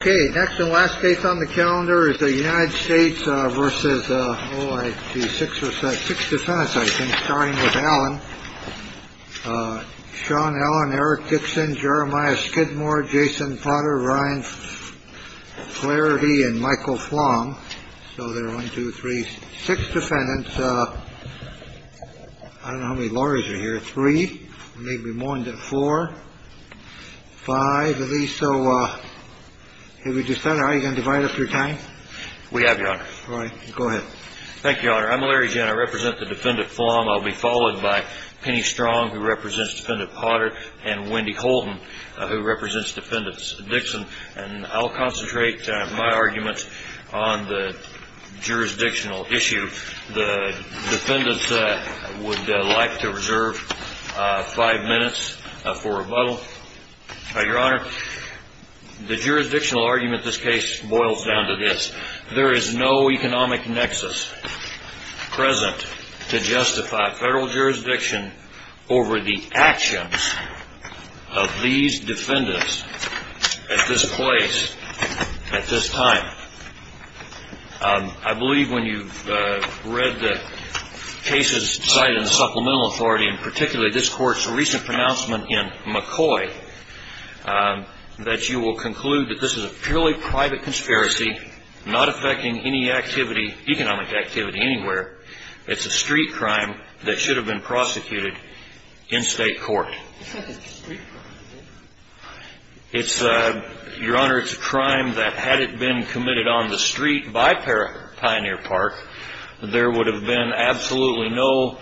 OK, next and last case on the calendar is the United States versus the six or six defense. I think starting with Alan, Sean Allen, Eric Dixon, Jeremiah Skidmore, Jason Potter, Ryan Clarity and Michael Flong. So there are one, two, three, six defendants. I don't know how many lawyers are here. Three, maybe more than four, five of these. So have you decided how you can divide up your time? We have your honor. All right. Go ahead. Thank you, Your Honor. I'm Larry Jenner. I represent the defendant form. I'll be followed by Penny Strong, who represents defendant Potter and Wendy Colton, who represents defendants Dixon. And I'll concentrate my arguments on the jurisdictional issue. The defendants would like to reserve five minutes for rebuttal. Your Honor, the jurisdictional argument this case boils down to this. There is no economic nexus present to justify federal jurisdiction over the actions of these defendants at this place at this time. I believe when you've read the cases cited in the Supplemental Authority, and particularly this Court's recent pronouncement in McCoy, that you will conclude that this is a purely private conspiracy, not affecting any activity, economic activity anywhere. It's a street crime that should have been prosecuted in state court. It's not just a street crime, is it? It's, Your Honor, it's a crime that had it been committed on the street by Pioneer Park, there would have been absolutely no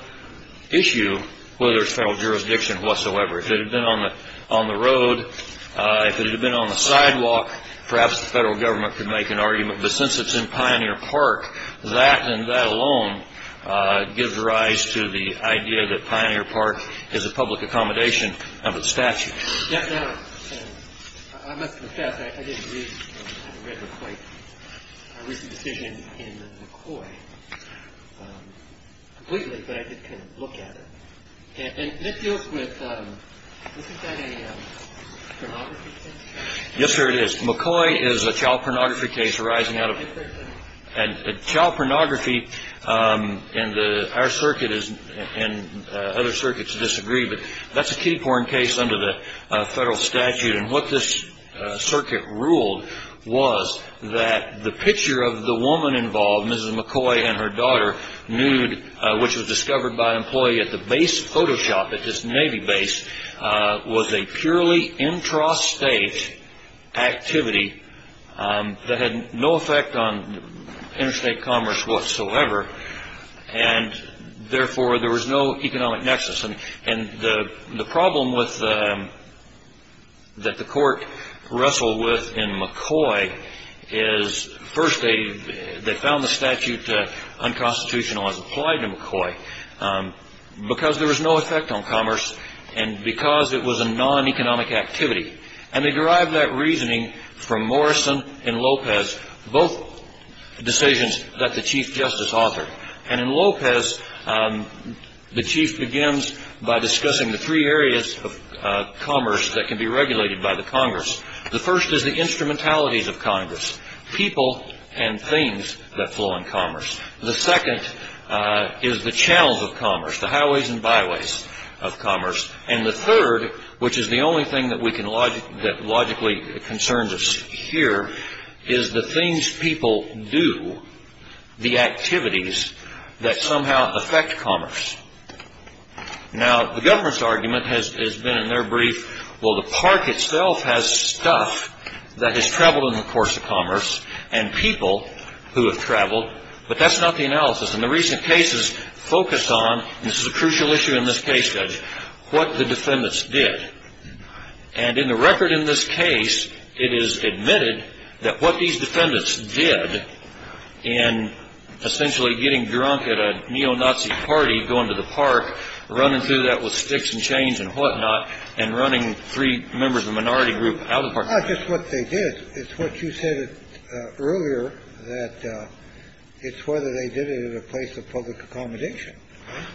issue whether it's federal jurisdiction whatsoever. If it had been on the road, if it had been on the sidewalk, perhaps the federal government could make an argument. But since it's in Pioneer Park, that and that alone gives rise to the idea that Pioneer Park is a public accommodation of its statute. Yes, Your Honor, I must confess, I didn't read McCoy's decision in McCoy completely, but I did kind of look at it. And that deals with, isn't that a pornography case? Yes, sir, it is. McCoy is a child pornography case arising out of, and child pornography in our circuit and other circuits disagree, but that's a kiddie porn case under the federal statute. And what this circuit ruled was that the picture of the woman involved, Mrs. McCoy and her daughter, nude, which was discovered by an employee at the base photoshop at this Navy base, was a purely intrastate activity that had no effect on interstate commerce whatsoever, and therefore there was no economic nexus. And the problem that the court wrestled with in McCoy is, first they found the statute unconstitutional as applied to McCoy because there was no effect on commerce and because it was a non-economic activity. And they derived that reasoning from Morrison and Lopez, both decisions that the Chief Justice authored. And in Lopez, the Chief begins by discussing the three areas of commerce that can be regulated by the Congress. The first is the instrumentalities of Congress, people and things that flow in commerce. The second is the channels of commerce, the highways and byways of commerce. And the third, which is the only thing that logically concerns us here, is the things people do, the activities that somehow affect commerce. Now, the government's argument has been in their brief, well, the park itself has stuff that has traveled in the course of commerce and people who have traveled, but that's not the analysis. And the recent cases focus on, and this is a crucial issue in this case, Judge, what the defendants did. And in the record in this case, it is admitted that what these defendants did in essentially getting drunk at a neo-Nazi party, going to the park, running through that with sticks and chains and whatnot, and running three members of a minority group out of the park. Not just what they did, it's what you said earlier, that it's whether they did it at a place of public accommodation.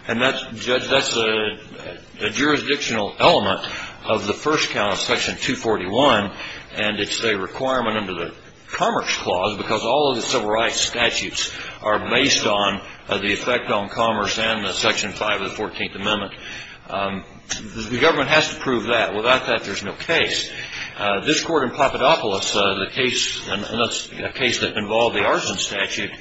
And that's, Judge, that's a jurisdictional element of the first count of Section 241. And it's a requirement under the Commerce Clause because all of the civil rights statutes are based on the effect on commerce and the Section 5 of the 14th Amendment. The government has to prove that. Without that, there's no case. This court in Papadopoulos, a case that involved the arson statute,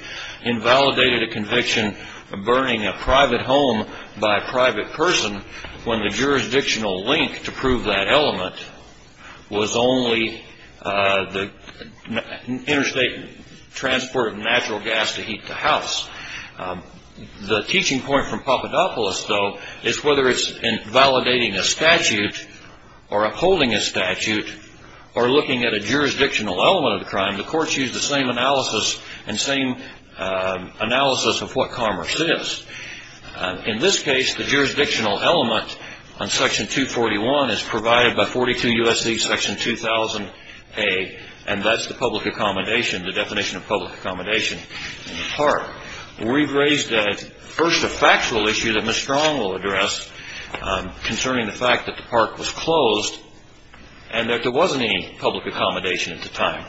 invalidated a conviction of burning a private home by a private person when the jurisdictional link to prove that element was only the interstate transport of natural gas to heat the house. The teaching point from Papadopoulos, though, is whether it's in validating a statute or upholding a statute or looking at a jurisdictional element of the crime, the courts use the same analysis and same analysis of what commerce is. In this case, the jurisdictional element on Section 241 is provided by 42 U.S.C. Section 2000A, and that's the public accommodation, the definition of public accommodation in the park. We've raised first a factual issue that Ms. Strong will address concerning the fact that the park was closed and that there wasn't any public accommodation at the time.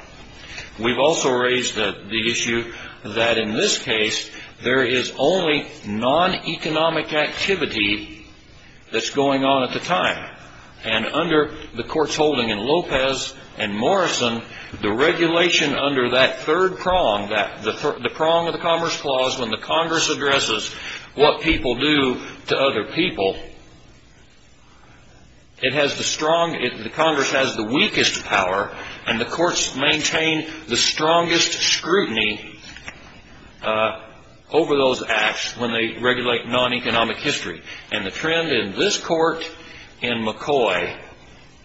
We've also raised the issue that in this case, there is only non-economic activity that's going on at the time. And under the courts holding in Lopez and Morrison, the regulation under that third prong, the prong of the Commerce Clause, when the Congress addresses what people do to other people, the Congress has the weakest power, and the courts maintain the strongest scrutiny over those acts when they regulate non-economic history. And the trend in this Court in McCoy,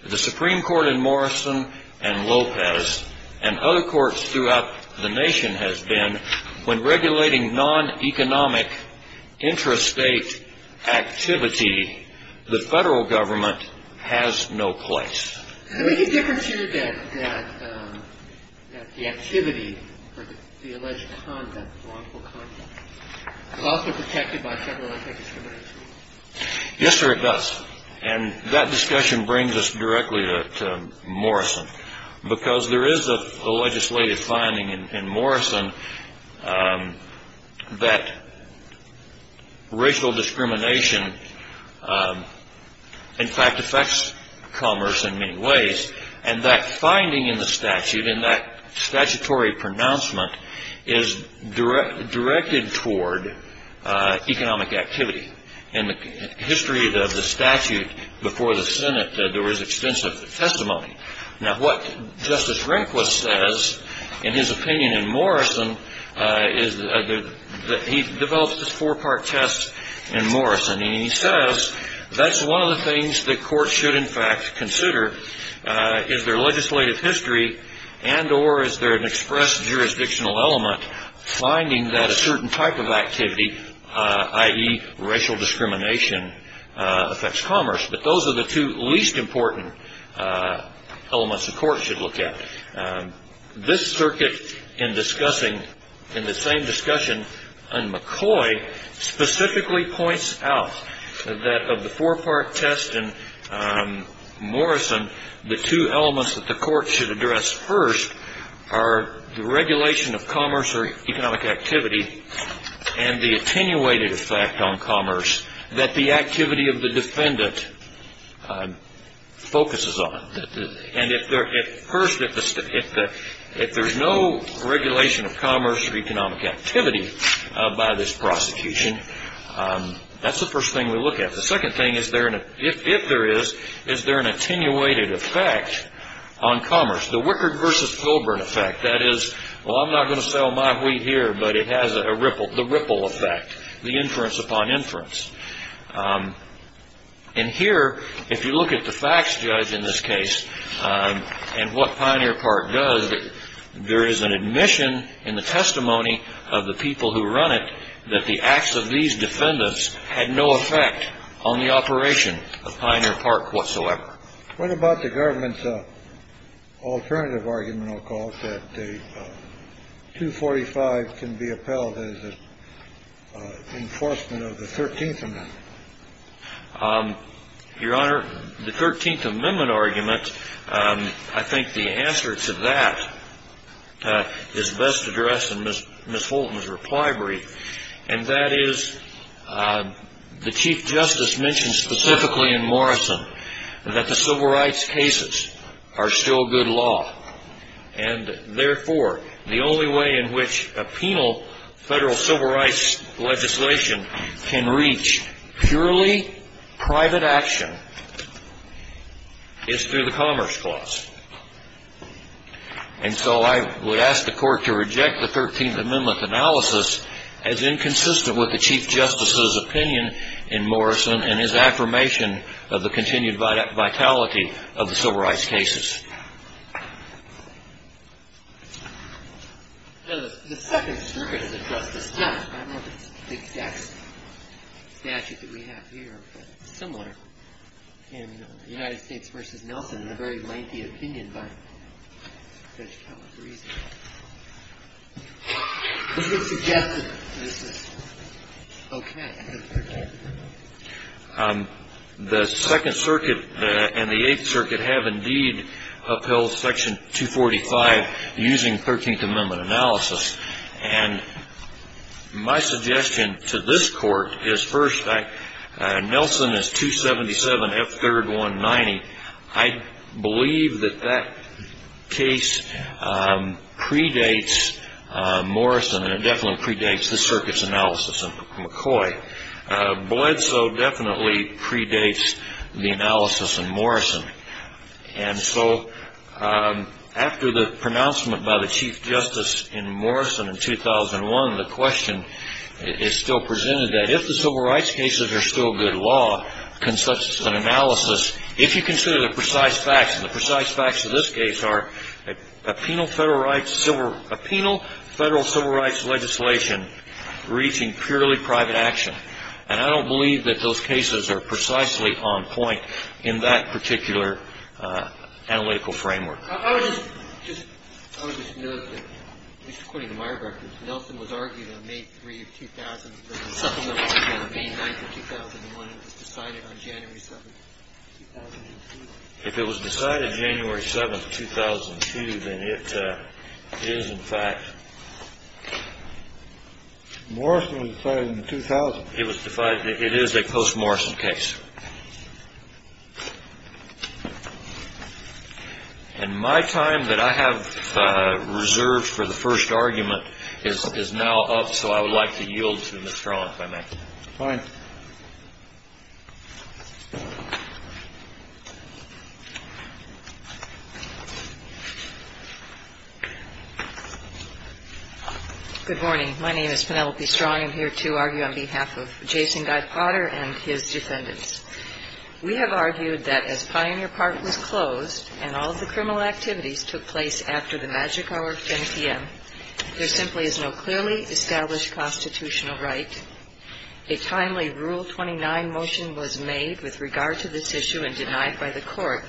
the Supreme Court in Morrison and Lopez, and other courts throughout the nation has been when regulating non-economic intrastate activity, the federal government has no place. Is there any difference here that the activity or the alleged conduct, wrongful conduct, is also protected by federal anti-discrimination? Yes, sir, it does. And that discussion brings us directly to Morrison, because there is a legislative finding in Morrison that racial discrimination in fact affects commerce in many ways, and that finding in the statute, in that statutory pronouncement, is directed toward economic activity. In the history of the statute before the Senate, there was extensive testimony. Now, what Justice Rehnquist says in his opinion in Morrison is that he develops this four-part test in Morrison, and he says that's one of the things that courts should in fact consider is their legislative history and or is there an express jurisdictional element finding that a certain type of activity, i.e. racial discrimination, affects commerce. But those are the two least important elements the court should look at. This circuit in discussing, in the same discussion on McCoy, specifically points out that of the four-part test in Morrison, the two elements that the court should address first are the regulation of commerce or economic activity and the attenuated effect on commerce that the activity of the defendant focuses on. And first, if there's no regulation of commerce or economic activity by this prosecution, that's the first thing we look at. The second thing, if there is, is there an attenuated effect on commerce, the Wickard versus Colburn effect. That is, well, I'm not going to sell my wheat here, but it has a ripple, the ripple effect, the inference upon inference. And here, if you look at the facts, Judge, in this case and what Pioneer Park does, there is an admission in the testimony of the people who run it that the acts of these defendants had no effect on the operation of Pioneer Park whatsoever. What about the government's alternative argument, I'll call it, that the 245 can be upheld as an enforcement of the 13th Amendment? Your Honor, the 13th Amendment argument, I think the answer to that is best addressed in Miss Fulton's reply brief. And that is, the Chief Justice mentioned specifically in Morrison that the civil rights cases are still good law. And therefore, the only way in which a penal federal civil rights legislation can reach purely private action is through the Commerce Clause. And so I would ask the Court to reject the 13th Amendment analysis as inconsistent with the Chief Justice's opinion in Morrison and his affirmation of the continued vitality of the civil rights cases. The Second Circuit has addressed this, yes, I don't have the exact statute that we have here, but it's similar in the United States v. Nelson in a very lengthy opinion by Judge Calabresi. The Second Circuit and the Eighth Circuit have, indeed, upheld Section 245 using 13th Amendment analysis, and my suggestion to this Court is, first, Nelson is 277 F. 3rd 190. I believe that that case predates Morrison, and it definitely predates the Circuit's analysis of McCoy. Bledsoe definitely predates the analysis in Morrison. And so after the pronouncement by the Chief Justice in Morrison in 2001, the question is still presented that if the civil rights cases are still good law, can such an analysis, if you consider the precise facts, and the precise facts of this case are a penal federal civil rights legislation reaching purely private action, and I don't believe that those cases are precisely on point in that particular analytical framework. I would just note that, at least according to my records, Nelson was argued on May 3, 2000, supplemented on May 9, 2001, and it was decided on January 7, 2002. If it was decided January 7, 2002, then it is, in fact, it is a post-Morrison case. And my time that I have reserved for the first argument is now up, so I would like to yield to Ms. Strong, if I may. Fine. Good morning. My name is Penelope Strong. I'm here to argue on behalf of Jason Guy Potter and his defendants. We have argued that as Pioneer Park was closed and all of the criminal activities took place after the magic hour of 10 p.m., there simply is no clearly established constitutional right. A timely Rule 29 motion was made with regard to this issue and denied by the Court.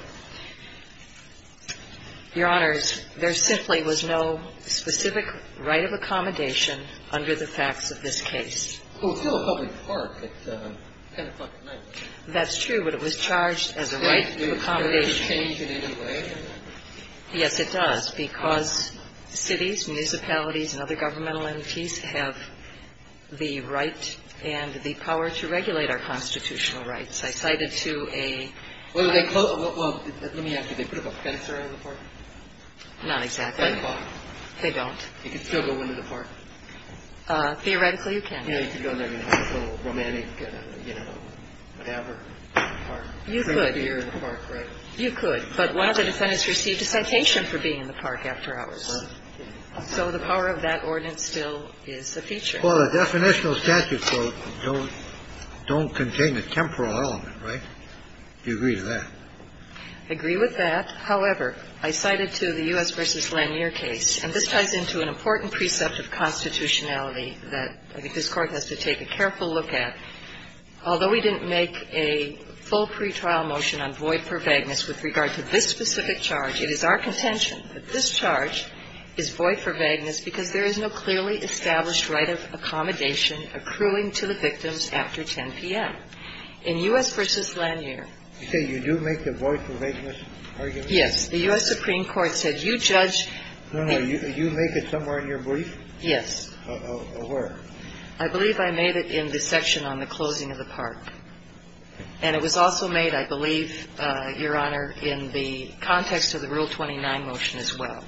Your Honors, there simply was no specific right of accommodation under the facts of this case. Well, it's still a public park at 10 o'clock at night. That's true, but it was charged as a right of accommodation. Does that change in any way? Yes, it does, because cities, municipalities, and other governmental entities have the right and the power to regulate our constitutional rights. I cited to a ---- Well, let me ask you. They put up a fence around the park? Not exactly. They don't. You can still go into the park? Theoretically, you can. You know, you can go in there and have a little romantic, you know, whatever, park. You could. You could, but one of the defendants received a citation for being in the park after hours. So the power of that ordinance still is a feature. Well, the definitional statute quote don't contain a temporal element, right? Do you agree with that? I agree with that. However, I cited to the U.S. v. Lanier case, and this ties into an important precept of constitutionality that I think this Court has to take a careful look at. Although we didn't make a full pretrial motion on void for vagueness with regard to this specific charge, it is our contention that this charge is void for vagueness because there is no clearly established right of accommodation accruing to the victims after 10 p.m. In U.S. v. Lanier. You say you do make the void for vagueness argument? Yes. The U.S. Supreme Court said you judge. No, no. You make it somewhere in your brief? Yes. Where? I believe I made it in the section on the closing of the park. And it was also made, I believe, Your Honor, in the context of the Rule 29 motion as well.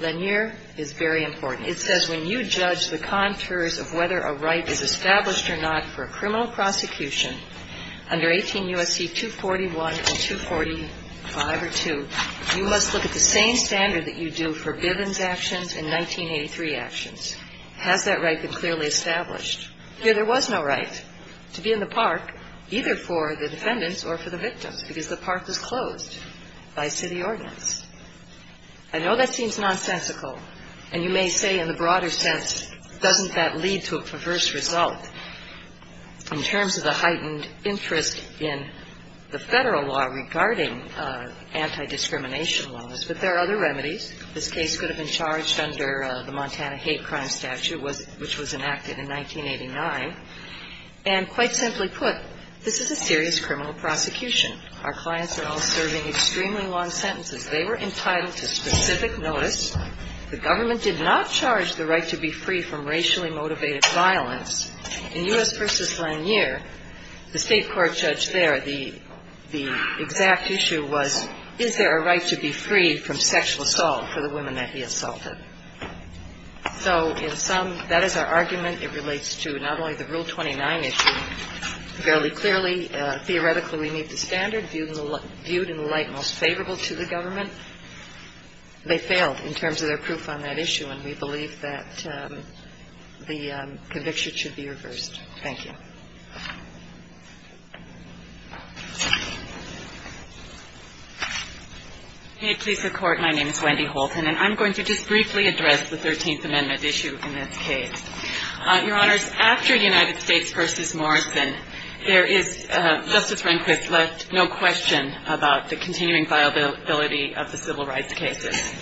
Lanier is very important. It says when you judge the contours of whether a right is established or not for a criminal prosecution under 18 U.S.C. 241 and 245 or 2, you must look at the same standard that you do for Bivens actions and 1983 actions. Has that right been clearly established? Here there was no right to be in the park, either for the defendants or for the victims, because the park was closed by city ordinance. I know that seems nonsensical. And you may say in the broader sense, doesn't that lead to a perverse result in terms of the heightened interest in the federal law regarding anti-discrimination laws? But there are other remedies. This case could have been charged under the Montana Hate Crime Statute, which was enacted in 1989. And quite simply put, this is a serious criminal prosecution. Our clients are all serving extremely long sentences. They were entitled to specific notice. The government did not charge the right to be free from racially motivated violence. In U.S. v. Lanier, the state court judge there, the exact issue was, is there a right to be free from sexual assault for the women that he assaulted? So in sum, that is our argument. It relates to not only the Rule 29 issue. Fairly clearly, theoretically, we need the standard viewed in the light most favorable to the government. They failed in terms of their proof on that issue, and we believe that the conviction should be reversed. Thank you. Wendy Houlton May it please the Court, my name is Wendy Houlton. And I'm going to just briefly address the Thirteenth Amendment issue in this case. Your Honors, after United States v. Morrison, there is, Justice Rehnquist left no question about the continuing viability of the civil rights cases.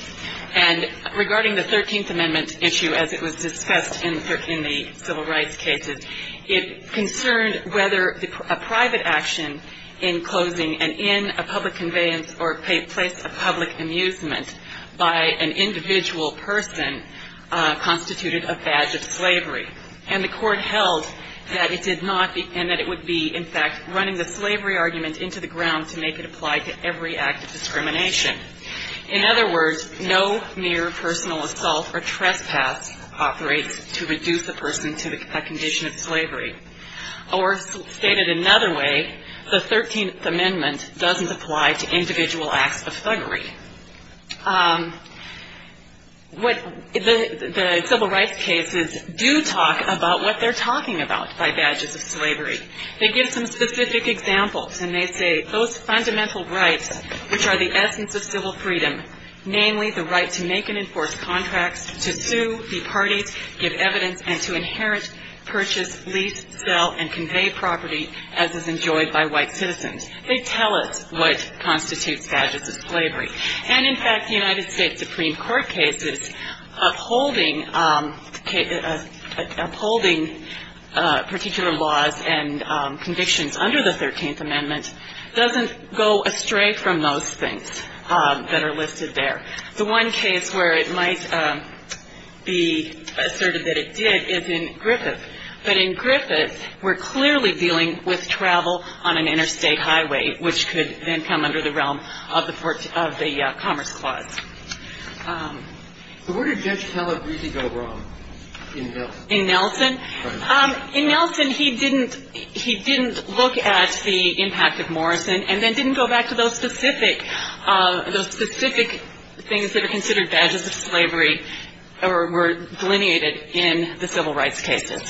And regarding the Thirteenth Amendment issue, as it was discussed in the civil rights cases, it concerned whether a private action in closing and in a public conveyance or place of public amusement by an individual person constituted a badge of slavery. And the Court held that it did not, and that it would be, in fact, running the slavery argument into the ground to make it apply to every act of discrimination. In other words, no mere personal assault or trespass operates to reduce a person to a condition of slavery. Or stated another way, the Thirteenth Amendment doesn't apply to individual acts of thuggery. What the civil rights cases do talk about what they're talking about by badges of slavery. They give some specific examples, and they say, those fundamental rights which are the essence of civil freedom, namely the right to make and enforce contracts, to sue, be partied, give evidence, and to inherit, purchase, lease, sell, and convey property as is enjoyed by white citizens. They tell us what constitutes badges of slavery. And in fact, the United States Supreme Court cases upholding particular laws and provisions and convictions under the Thirteenth Amendment doesn't go astray from those things that are listed there. The one case where it might be asserted that it did is in Griffith. But in Griffith, we're clearly dealing with travel on an interstate highway, which could then come under the realm of the Commerce Clause. So where did Judge Calabrese go wrong in Nelson? In Nelson, he didn't look at the impact of Morrison and then didn't go back to those specific things that are considered badges of slavery or were delineated in the civil rights cases.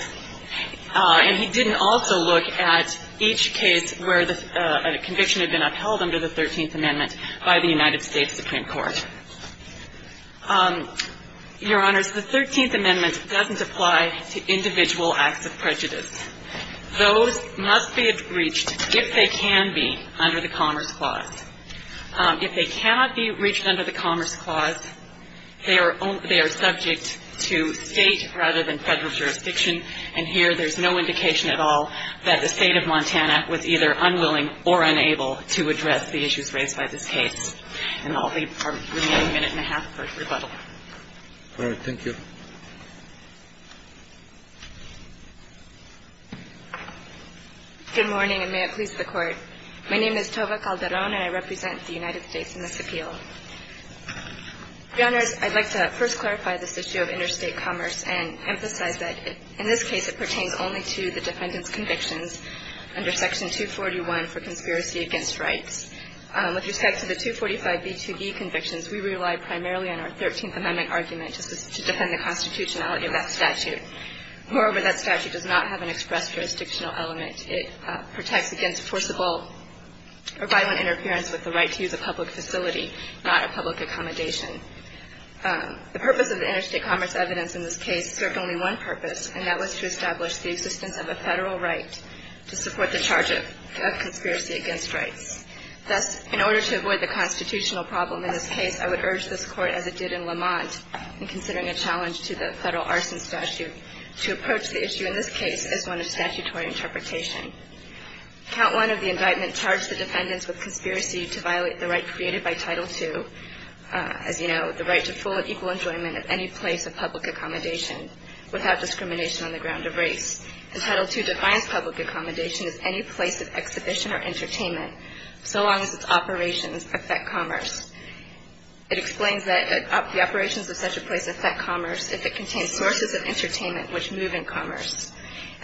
And he didn't also look at each case where a conviction had been upheld under the Thirteenth Amendment by the United States Supreme Court. Your Honors, the Thirteenth Amendment doesn't apply to individual acts of thuggery. It doesn't apply to individual acts of prejudice. Those must be reached, if they can be, under the Commerce Clause. If they cannot be reached under the Commerce Clause, they are subject to state rather than federal jurisdiction. And here, there's no indication at all that the state of Montana was either unwilling or unable to address the issues raised by this case. And I'll leave our remaining minute and a half for rebuttal. All right. Thank you. Good morning, and may it please the Court. My name is Tova Calderon, and I represent the United States in this appeal. Your Honors, I'd like to first clarify this issue of interstate commerce and emphasize that, in this case, it pertains only to the defendant's convictions under Section 241 for conspiracy against rights. With respect to the 245B2B convictions, we rely primarily on our Thirteenth Amendment argument to defend the constitutionality of that statute. Moreover, that statute does not have an express jurisdictional element. It protects against forcible or violent interference with the right to use a public facility, not a public accommodation. The purpose of the interstate commerce evidence in this case served only one purpose, and that was to establish the existence of a federal right to support the charge of conspiracy against rights. Thus, in order to avoid the constitutional problem in this case, I would urge this Court, as it did in Lamont in considering a challenge to the federal arson statute, to approach the issue in this case as one of statutory interpretation. Count 1 of the indictment charged the defendants with conspiracy to violate the right created by Title II, as you know, the right to full and equal enjoyment of any place of public accommodation without discrimination on the ground of race. And Title II defines public accommodation as any place of exhibition or entertainment, so long as its operations affect commerce. It explains that the operations of such a place affect commerce if it contains sources of entertainment which move in commerce.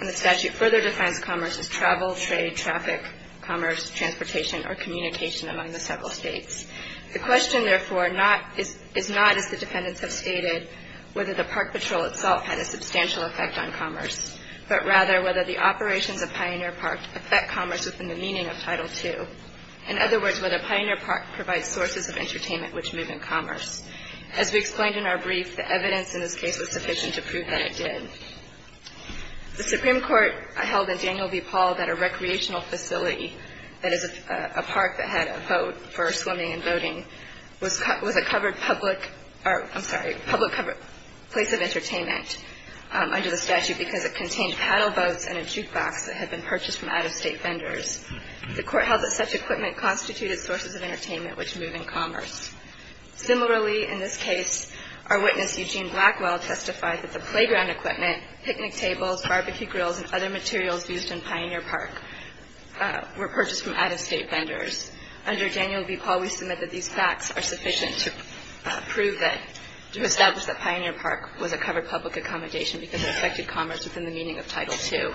And the statute further defines commerce as travel, trade, traffic, commerce, transportation, or communication among the several states. The question, therefore, is not, as the defendants have stated, whether the park patrol itself had a substantial effect on commerce, but rather whether the operations of Pioneer Park affect commerce within the meaning of Title II. In other words, whether Pioneer Park provides sources of entertainment which move in commerce. As we explained in our brief, the evidence in this case was sufficient to prove that it did. The Supreme Court held in Daniel v. Paul that a recreational facility, that is, a park that had a vote for swimming and voting, was a covered public or, I'm sorry, public covered place of entertainment under the statute because it contained paddle boats and a jukebox that had been purchased from out-of-state vendors. The court held that such equipment constituted sources of entertainment which move in commerce. Similarly, in this case, our witness, Eugene Blackwell, testified that the playground equipment, picnic tables, barbecue grills, and other materials used in Pioneer Park were purchased from out-of-state vendors. Under Daniel v. Paul, we submit that these facts are sufficient to prove that, to establish that Pioneer Park was a covered public accommodation because it affected commerce within the meaning of Title II.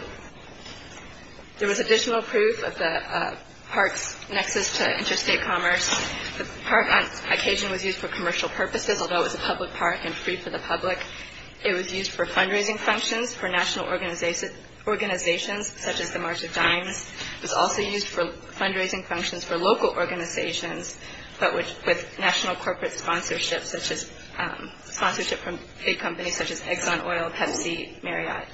There was additional proof of the park's nexus to interstate commerce. The park on occasion was used for commercial purposes, although it was a public park and free for the public. It was used for fundraising functions for national organizations such as the March of Dimes. It was also used for fundraising functions for local organizations but with national corporate sponsorship from big companies such as Exxon Oil, Pepsi, Marriott.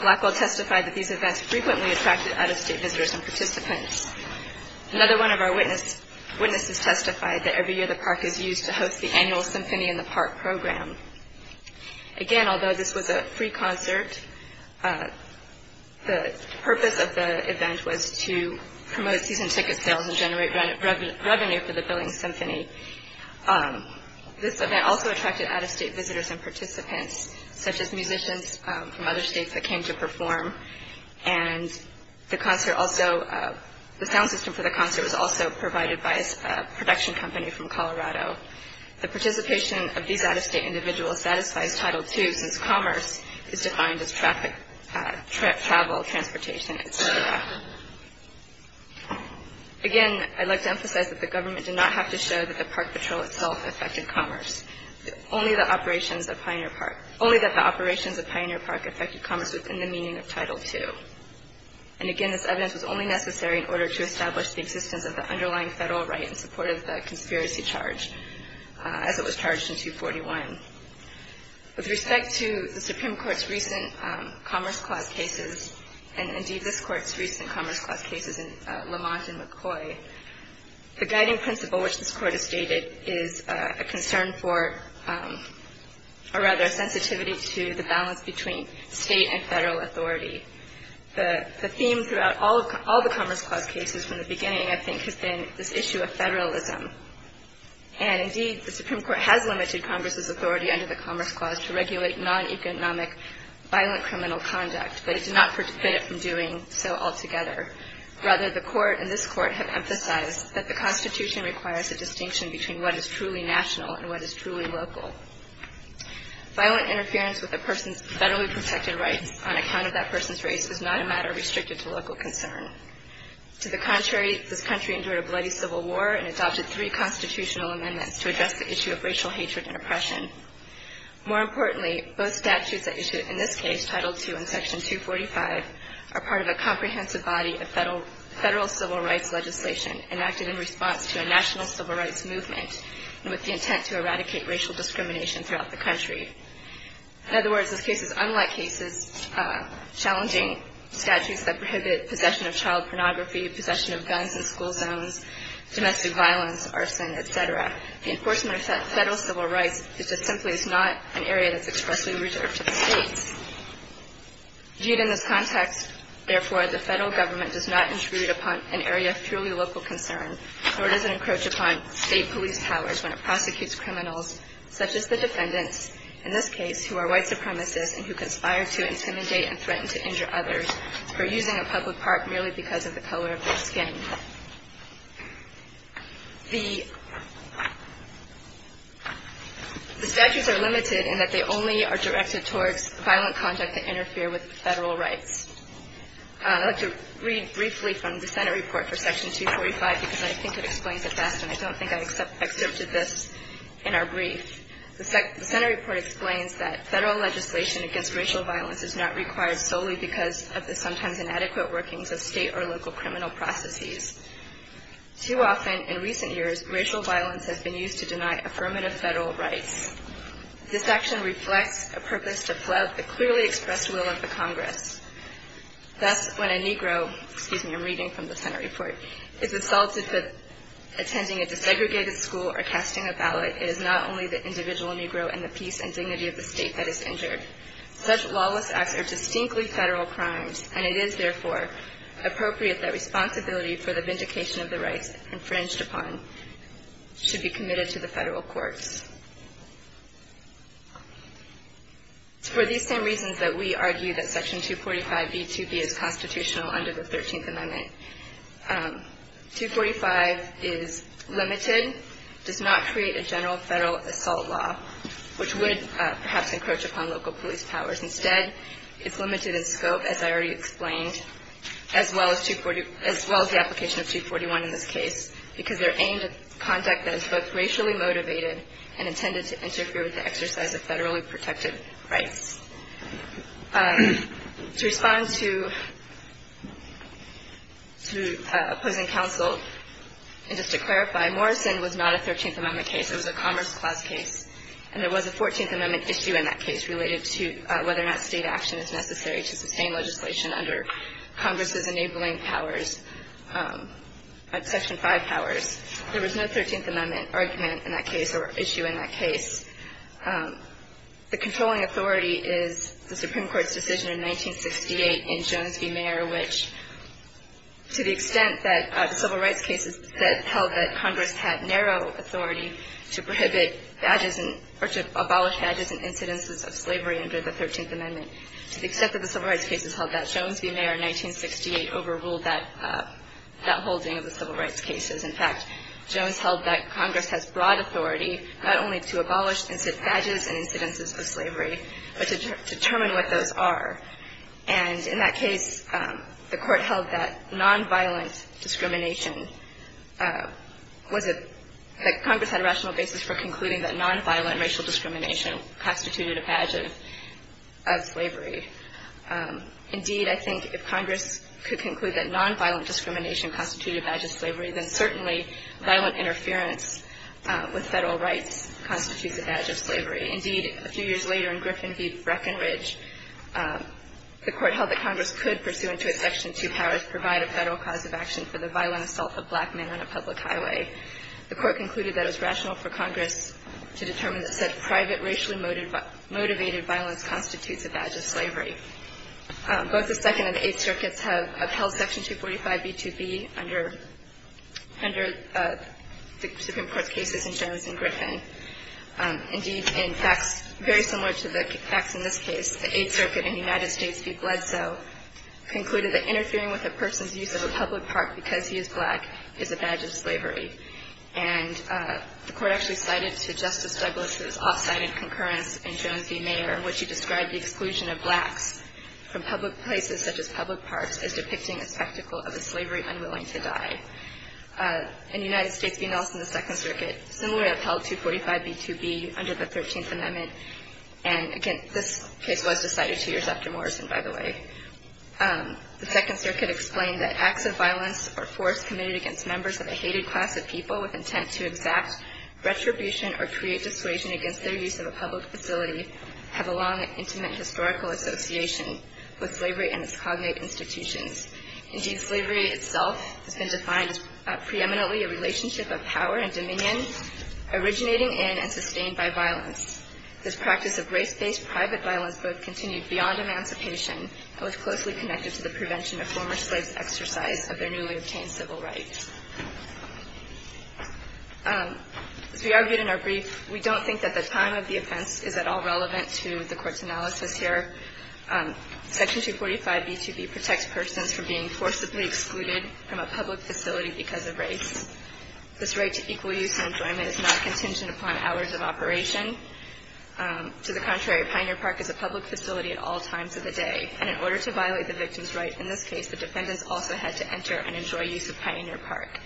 Blackwell testified that these events frequently attracted out-of-state visitors and participants. Another one of our witnesses testified that every year the park is used to host the annual Symphony in the Park program. Again, although this was a free concert, the purpose of the event was to promote season ticket sales and generate revenue for the building symphony. This event also attracted out-of-state visitors and participants, such as musicians from other states that came to perform. And the sound system for the concert was also provided by a production company from Colorado. The participation of these out-of-state individuals satisfies Title II since commerce is defined as traffic, travel, transportation, etc. Again, I'd like to emphasize that the government did not have to show that the park patrol itself affected commerce. Only that the operations of Pioneer Park affected commerce within the meaning of Title II. And again, this evidence was only necessary in order to establish the existence of the underlying federal right in support of the conspiracy charge as it was charged in 241. With respect to the Supreme Court's recent Commerce Clause cases and indeed this Court's recent Commerce Clause cases in Lamont and McCoy, the guiding principle which this Court has stated is a concern for, or rather a sensitivity to the balance between state and federal authority. The theme throughout all the Commerce Clause cases from the beginning, I think, has been this issue of federalism. And indeed, the Supreme Court has limited Congress's authority under the Commerce Clause to regulate non-economic violent criminal conduct, but it did not forbid it from doing so altogether. Rather, the Court and this Court have emphasized that the Constitution requires a distinction between what is truly national and what is truly local. Violent interference with a person's federally protected rights on account of that person's race is not a matter restricted to local concern. To the contrary, this country endured a bloody civil war and adopted three constitutional amendments to address the issue of racial hatred and oppression. More importantly, both statutes that you see in this case, Title II and Section 245, are part of a comprehensive body of federal civil rights legislation enacted in response to a national civil rights movement with the intent to eradicate racial discrimination throughout the country. In other words, this case is unlike cases challenging statutes that prohibit possession of child pornography, possession of guns in school zones, domestic violence, arson, et cetera. The enforcement of federal civil rights is just simply not an area that's expressly reserved to the states. Viewed in this context, therefore, the federal government does not intrude upon an area of truly local concern nor does it encroach upon state police powers when it prosecutes criminals such as the defendants, in this case, who are white supremacists and who conspire to intimidate and threaten to injure others for using a public park merely because of the color of their skin. The statutes are limited in that they only are directed towards violent conduct that interfere with federal rights. I'd like to read briefly from the Senate report for Section 245 because I think it explains it best and I don't think I excerpted this in our brief. The Senate report explains that federal legislation against racial violence is not required solely because of the sometimes inadequate workings of state or local criminal processes. Too often, in recent years, racial violence has been used to deny affirmative federal rights. This action reflects a purpose to flout the clearly expressed will of the Congress. Thus, when a Negro, excuse me, I'm reading from the Senate report, is assaulted for attending a desegregated school or casting a ballot, it is not only the individual Negro and the peace and dignity of the state that is injured. Such lawless acts are distinctly federal crimes and it is, therefore, appropriate that responsibility for the vindication of the rights infringed upon should be committed to the federal courts. It's for these same reasons that we argue that Section 245b2b is constitutional under the 13th Amendment. 245 is limited, does not create a general federal assault law, which would perhaps encroach upon local police powers. Instead, it's limited in scope, as I already explained, as well as the application of 241 in this case, because they're aimed at conduct that is both racially motivated and intended to interfere with the exercise of federally protected rights. To respond to opposing counsel, and just to clarify, Morrison was not a 13th Amendment case. It was a Commerce Clause case, and there was a 14th Amendment issue in that case related to whether or not State action is necessary to sustain legislation under Congress's enabling powers, Section 5 powers. There was no 13th Amendment argument in that case or issue in that case. The controlling authority is the Supreme Court's decision in 1968 in Jones v. Mayer, which, to the extent that the civil rights cases that held that Congress had narrow authority to prohibit badges or to abolish badges and incidences of slavery under the 13th Amendment, to the extent that the civil rights cases held that, Jones v. Mayer in 1968 overruled that holding of the civil rights cases. In fact, Jones held that Congress has broad authority not only to abolish badges and incidences of slavery, but to determine what those are. And in that case, the Court held that nonviolent discrimination was a — that Congress had a rational basis for concluding that nonviolent racial discrimination constituted a badge of slavery. Indeed, I think if Congress could conclude that nonviolent discrimination constituted a badge of slavery, then certainly violent interference with Federal rights constitutes a badge of slavery. Indeed, a few years later in Griffin v. Breckenridge, the Court held that Congress could, pursuant to its Section 2 powers, provide a Federal cause of action for the violent assault of black men on a public highway. The Court concluded that it was rational for Congress to determine that such private, racially motivated violence constitutes a badge of slavery. Both the Second and Eighth Circuits have upheld Section 245b2b under the Supreme Court's cases in Jones and Griffin. Indeed, in facts very similar to the facts in this case, the Eighth Circuit in the United States v. Bledsoe concluded that interfering with a person's use of a public park because he is black is a badge of slavery. And the Court actually cited to Justice Douglas' off-sided concurrence in Jones v. Mayer in which he described the exclusion of blacks from public places such as public parks as depicting a spectacle of a slavery unwilling to die. In the United States v. Nelson, the Second Circuit similarly upheld 245b2b under the Thirteenth Amendment. And again, this case was decided two years after Morrison, by the way. The Second Circuit explained that acts of violence or force committed against members of a hated class of people with intent to exact retribution or create dissuasion against their use of a public facility have a long and intimate historical association with slavery and its cognate institutions. Indeed, slavery itself has been defined as preeminently a relationship of power and dominion originating in and sustained by violence. This practice of race-based private violence both continued beyond emancipation and was closely connected to the prevention of former slaves' exercise of their newly obtained civil rights. As we argued in our brief, we don't think that the time of the offense is at all relevant to the Court's analysis here. Section 245b2b protects persons from being forcibly excluded from a public facility because of race. This right to equal use and enjoyment is not contingent upon hours of operation. To the contrary, Pioneer Park is a public facility at all times of the day. And in order to violate the victim's right in this case, the defendants also had to enter and enjoy use of Pioneer Park.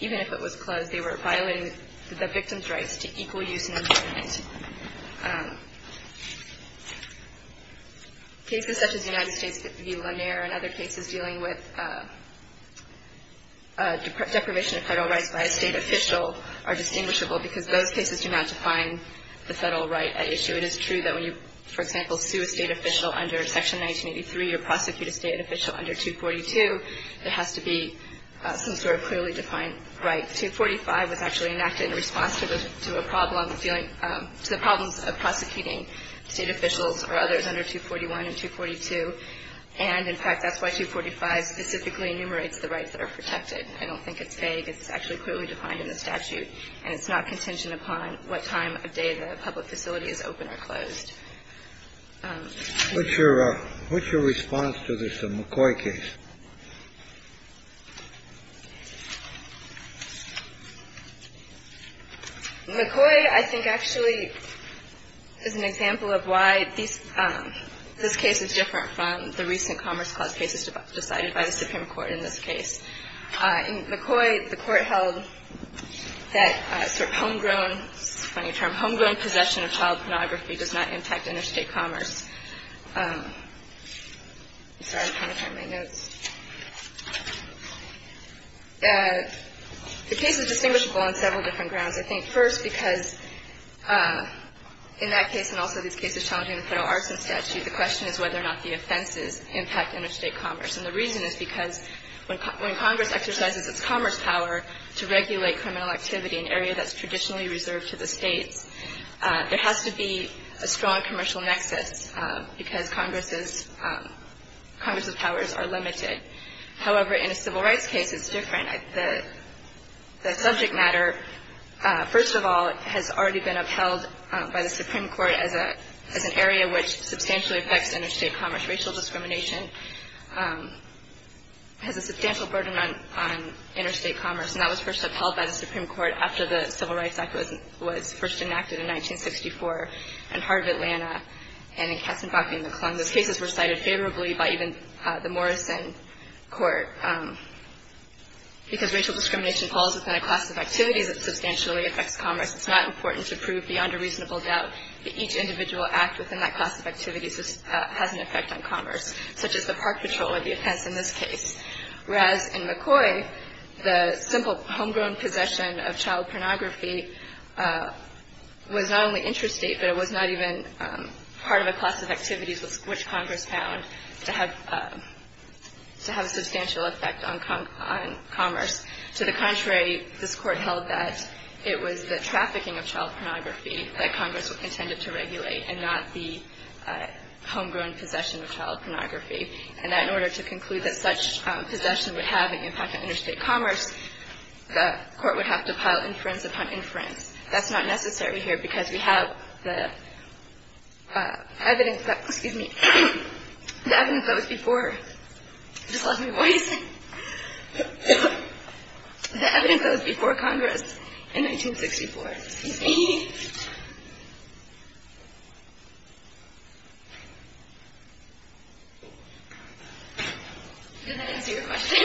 Even if it was closed, they were violating the victim's rights to equal use and enjoyment. Cases such as the United States v. Lanier and other cases dealing with deprivation of federal rights by a state official are distinguishable because those cases do not define the federal right at issue. It is true that when you, for example, sue a state official under Section 1983 or prosecute a state official under 242, there has to be some sort of clearly defined right. In fact, 245 was actually enacted in response to a problem, to the problems of prosecuting state officials or others under 241 and 242. And, in fact, that's why 245 specifically enumerates the rights that are protected. I don't think it's vague. It's actually clearly defined in the statute. And it's not contingent upon what time of day the public facility is open or closed. What's your response to this McCoy case? McCoy, I think, actually is an example of why this case is different from the recent Commerce Clause cases decided by the Supreme Court in this case. In McCoy, the Court held that sort of homegrown, funny term, homegrown possession of child pornography does not impact interstate commerce. Sorry, I'm trying to find my notes. The case is distinguishable on several different grounds. I think, first, because in that case and also these cases challenging the federal arson statute, the question is whether or not the offenses impact interstate commerce. And the reason is because when Congress exercises its commerce power to regulate criminal activity in an area that's traditionally reserved to the states, there has to be a strong commercial nexus because Congress's powers are limited. However, in a civil rights case, it's different. The subject matter, first of all, has already been upheld by the Supreme Court as an area which substantially affects interstate commerce. Racial discrimination has a substantial burden on interstate commerce. And that was first upheld by the Supreme Court after the Civil Rights Act was first enacted in 1964 in Heart of Atlanta and in Katzenbach v. McClung. Those cases were cited favorably by even the Morrison Court. Because racial discrimination falls within a class of activities that substantially affects commerce, it's not important to prove beyond a reasonable doubt that each individual act within that class of activities has an effect on commerce, such as the park patrol or the offense in this case. Whereas in McCoy, the simple homegrown possession of child pornography was not only interstate, but it was not even part of a class of activities which Congress found to have a substantial effect on commerce. To the contrary, this Court held that it was the trafficking of child pornography that Congress intended to regulate and not the homegrown possession of child pornography. And that in order to conclude that such possession would have an impact on interstate commerce, the Court would have to pile inference upon inference. That's not necessary here because we have the evidence that was before Congress in 1964. Excuse me. Did that answer your question?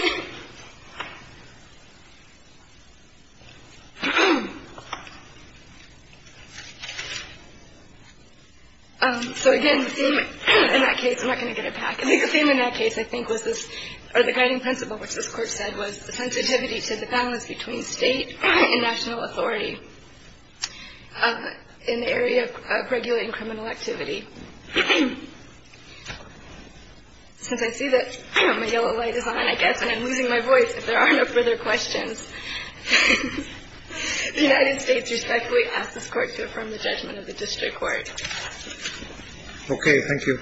So again, the theme in that case, I'm not going to get it back. I think the theme in that case, I think, was this, or the guiding principle which this in the area of regulating criminal activity. Since I see that my yellow light is on, I guess, and I'm losing my voice, if there are no further questions, the United States respectfully asks this Court to affirm the judgment of the district court. Okay. Thank you.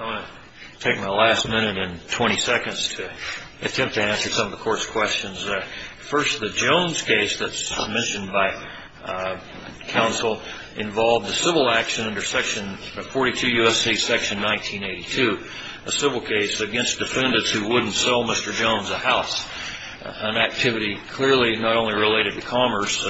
I'm going to take my last minute and 20 seconds to attempt to answer some of the Court's questions. First, the Jones case that's submissioned by counsel involved a civil action under section 42 U.S.C. section 1982, a civil case against defendants who wouldn't sell Mr. Jones a house, an activity clearly not only related to commerce,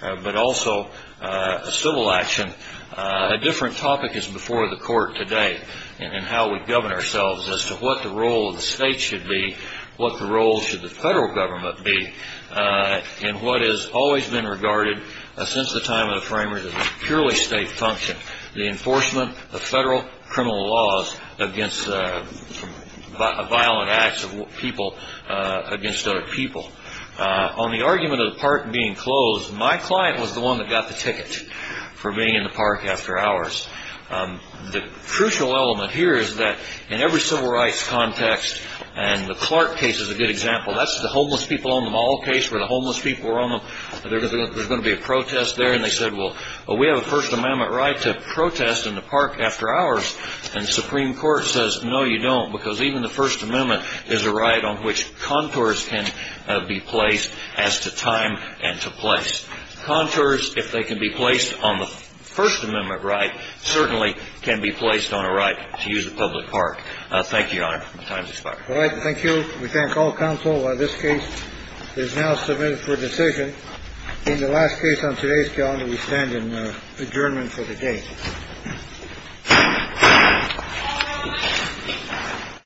but also a civil action. A different topic is before the Court today in how we govern ourselves as to what the role of the state should be, what the role should the federal government be, and what has always been regarded since the time of the framers as a purely state function, the enforcement of federal criminal laws against violent acts of people against other people. On the argument of the park being closed, my client was the one that got the ticket for being in the park after hours. The crucial element here is that in every civil rights context, and the Clark case is a good example, that's the homeless people on the mall case where the homeless people were on them, there's going to be a protest there. And they said, well, we have a First Amendment right to protest in the park after hours. And the Supreme Court says, no, you don't, because even the First Amendment is a right on which contours can be placed as to time and to place. Contours, if they can be placed on the First Amendment right, certainly can be placed on a right to use a public park. Thank you, Your Honor. My time is expired. All right. Thank you. We thank all counsel. This case is now submitted for decision in the last case on today's calendar. We stand in adjournment for the day.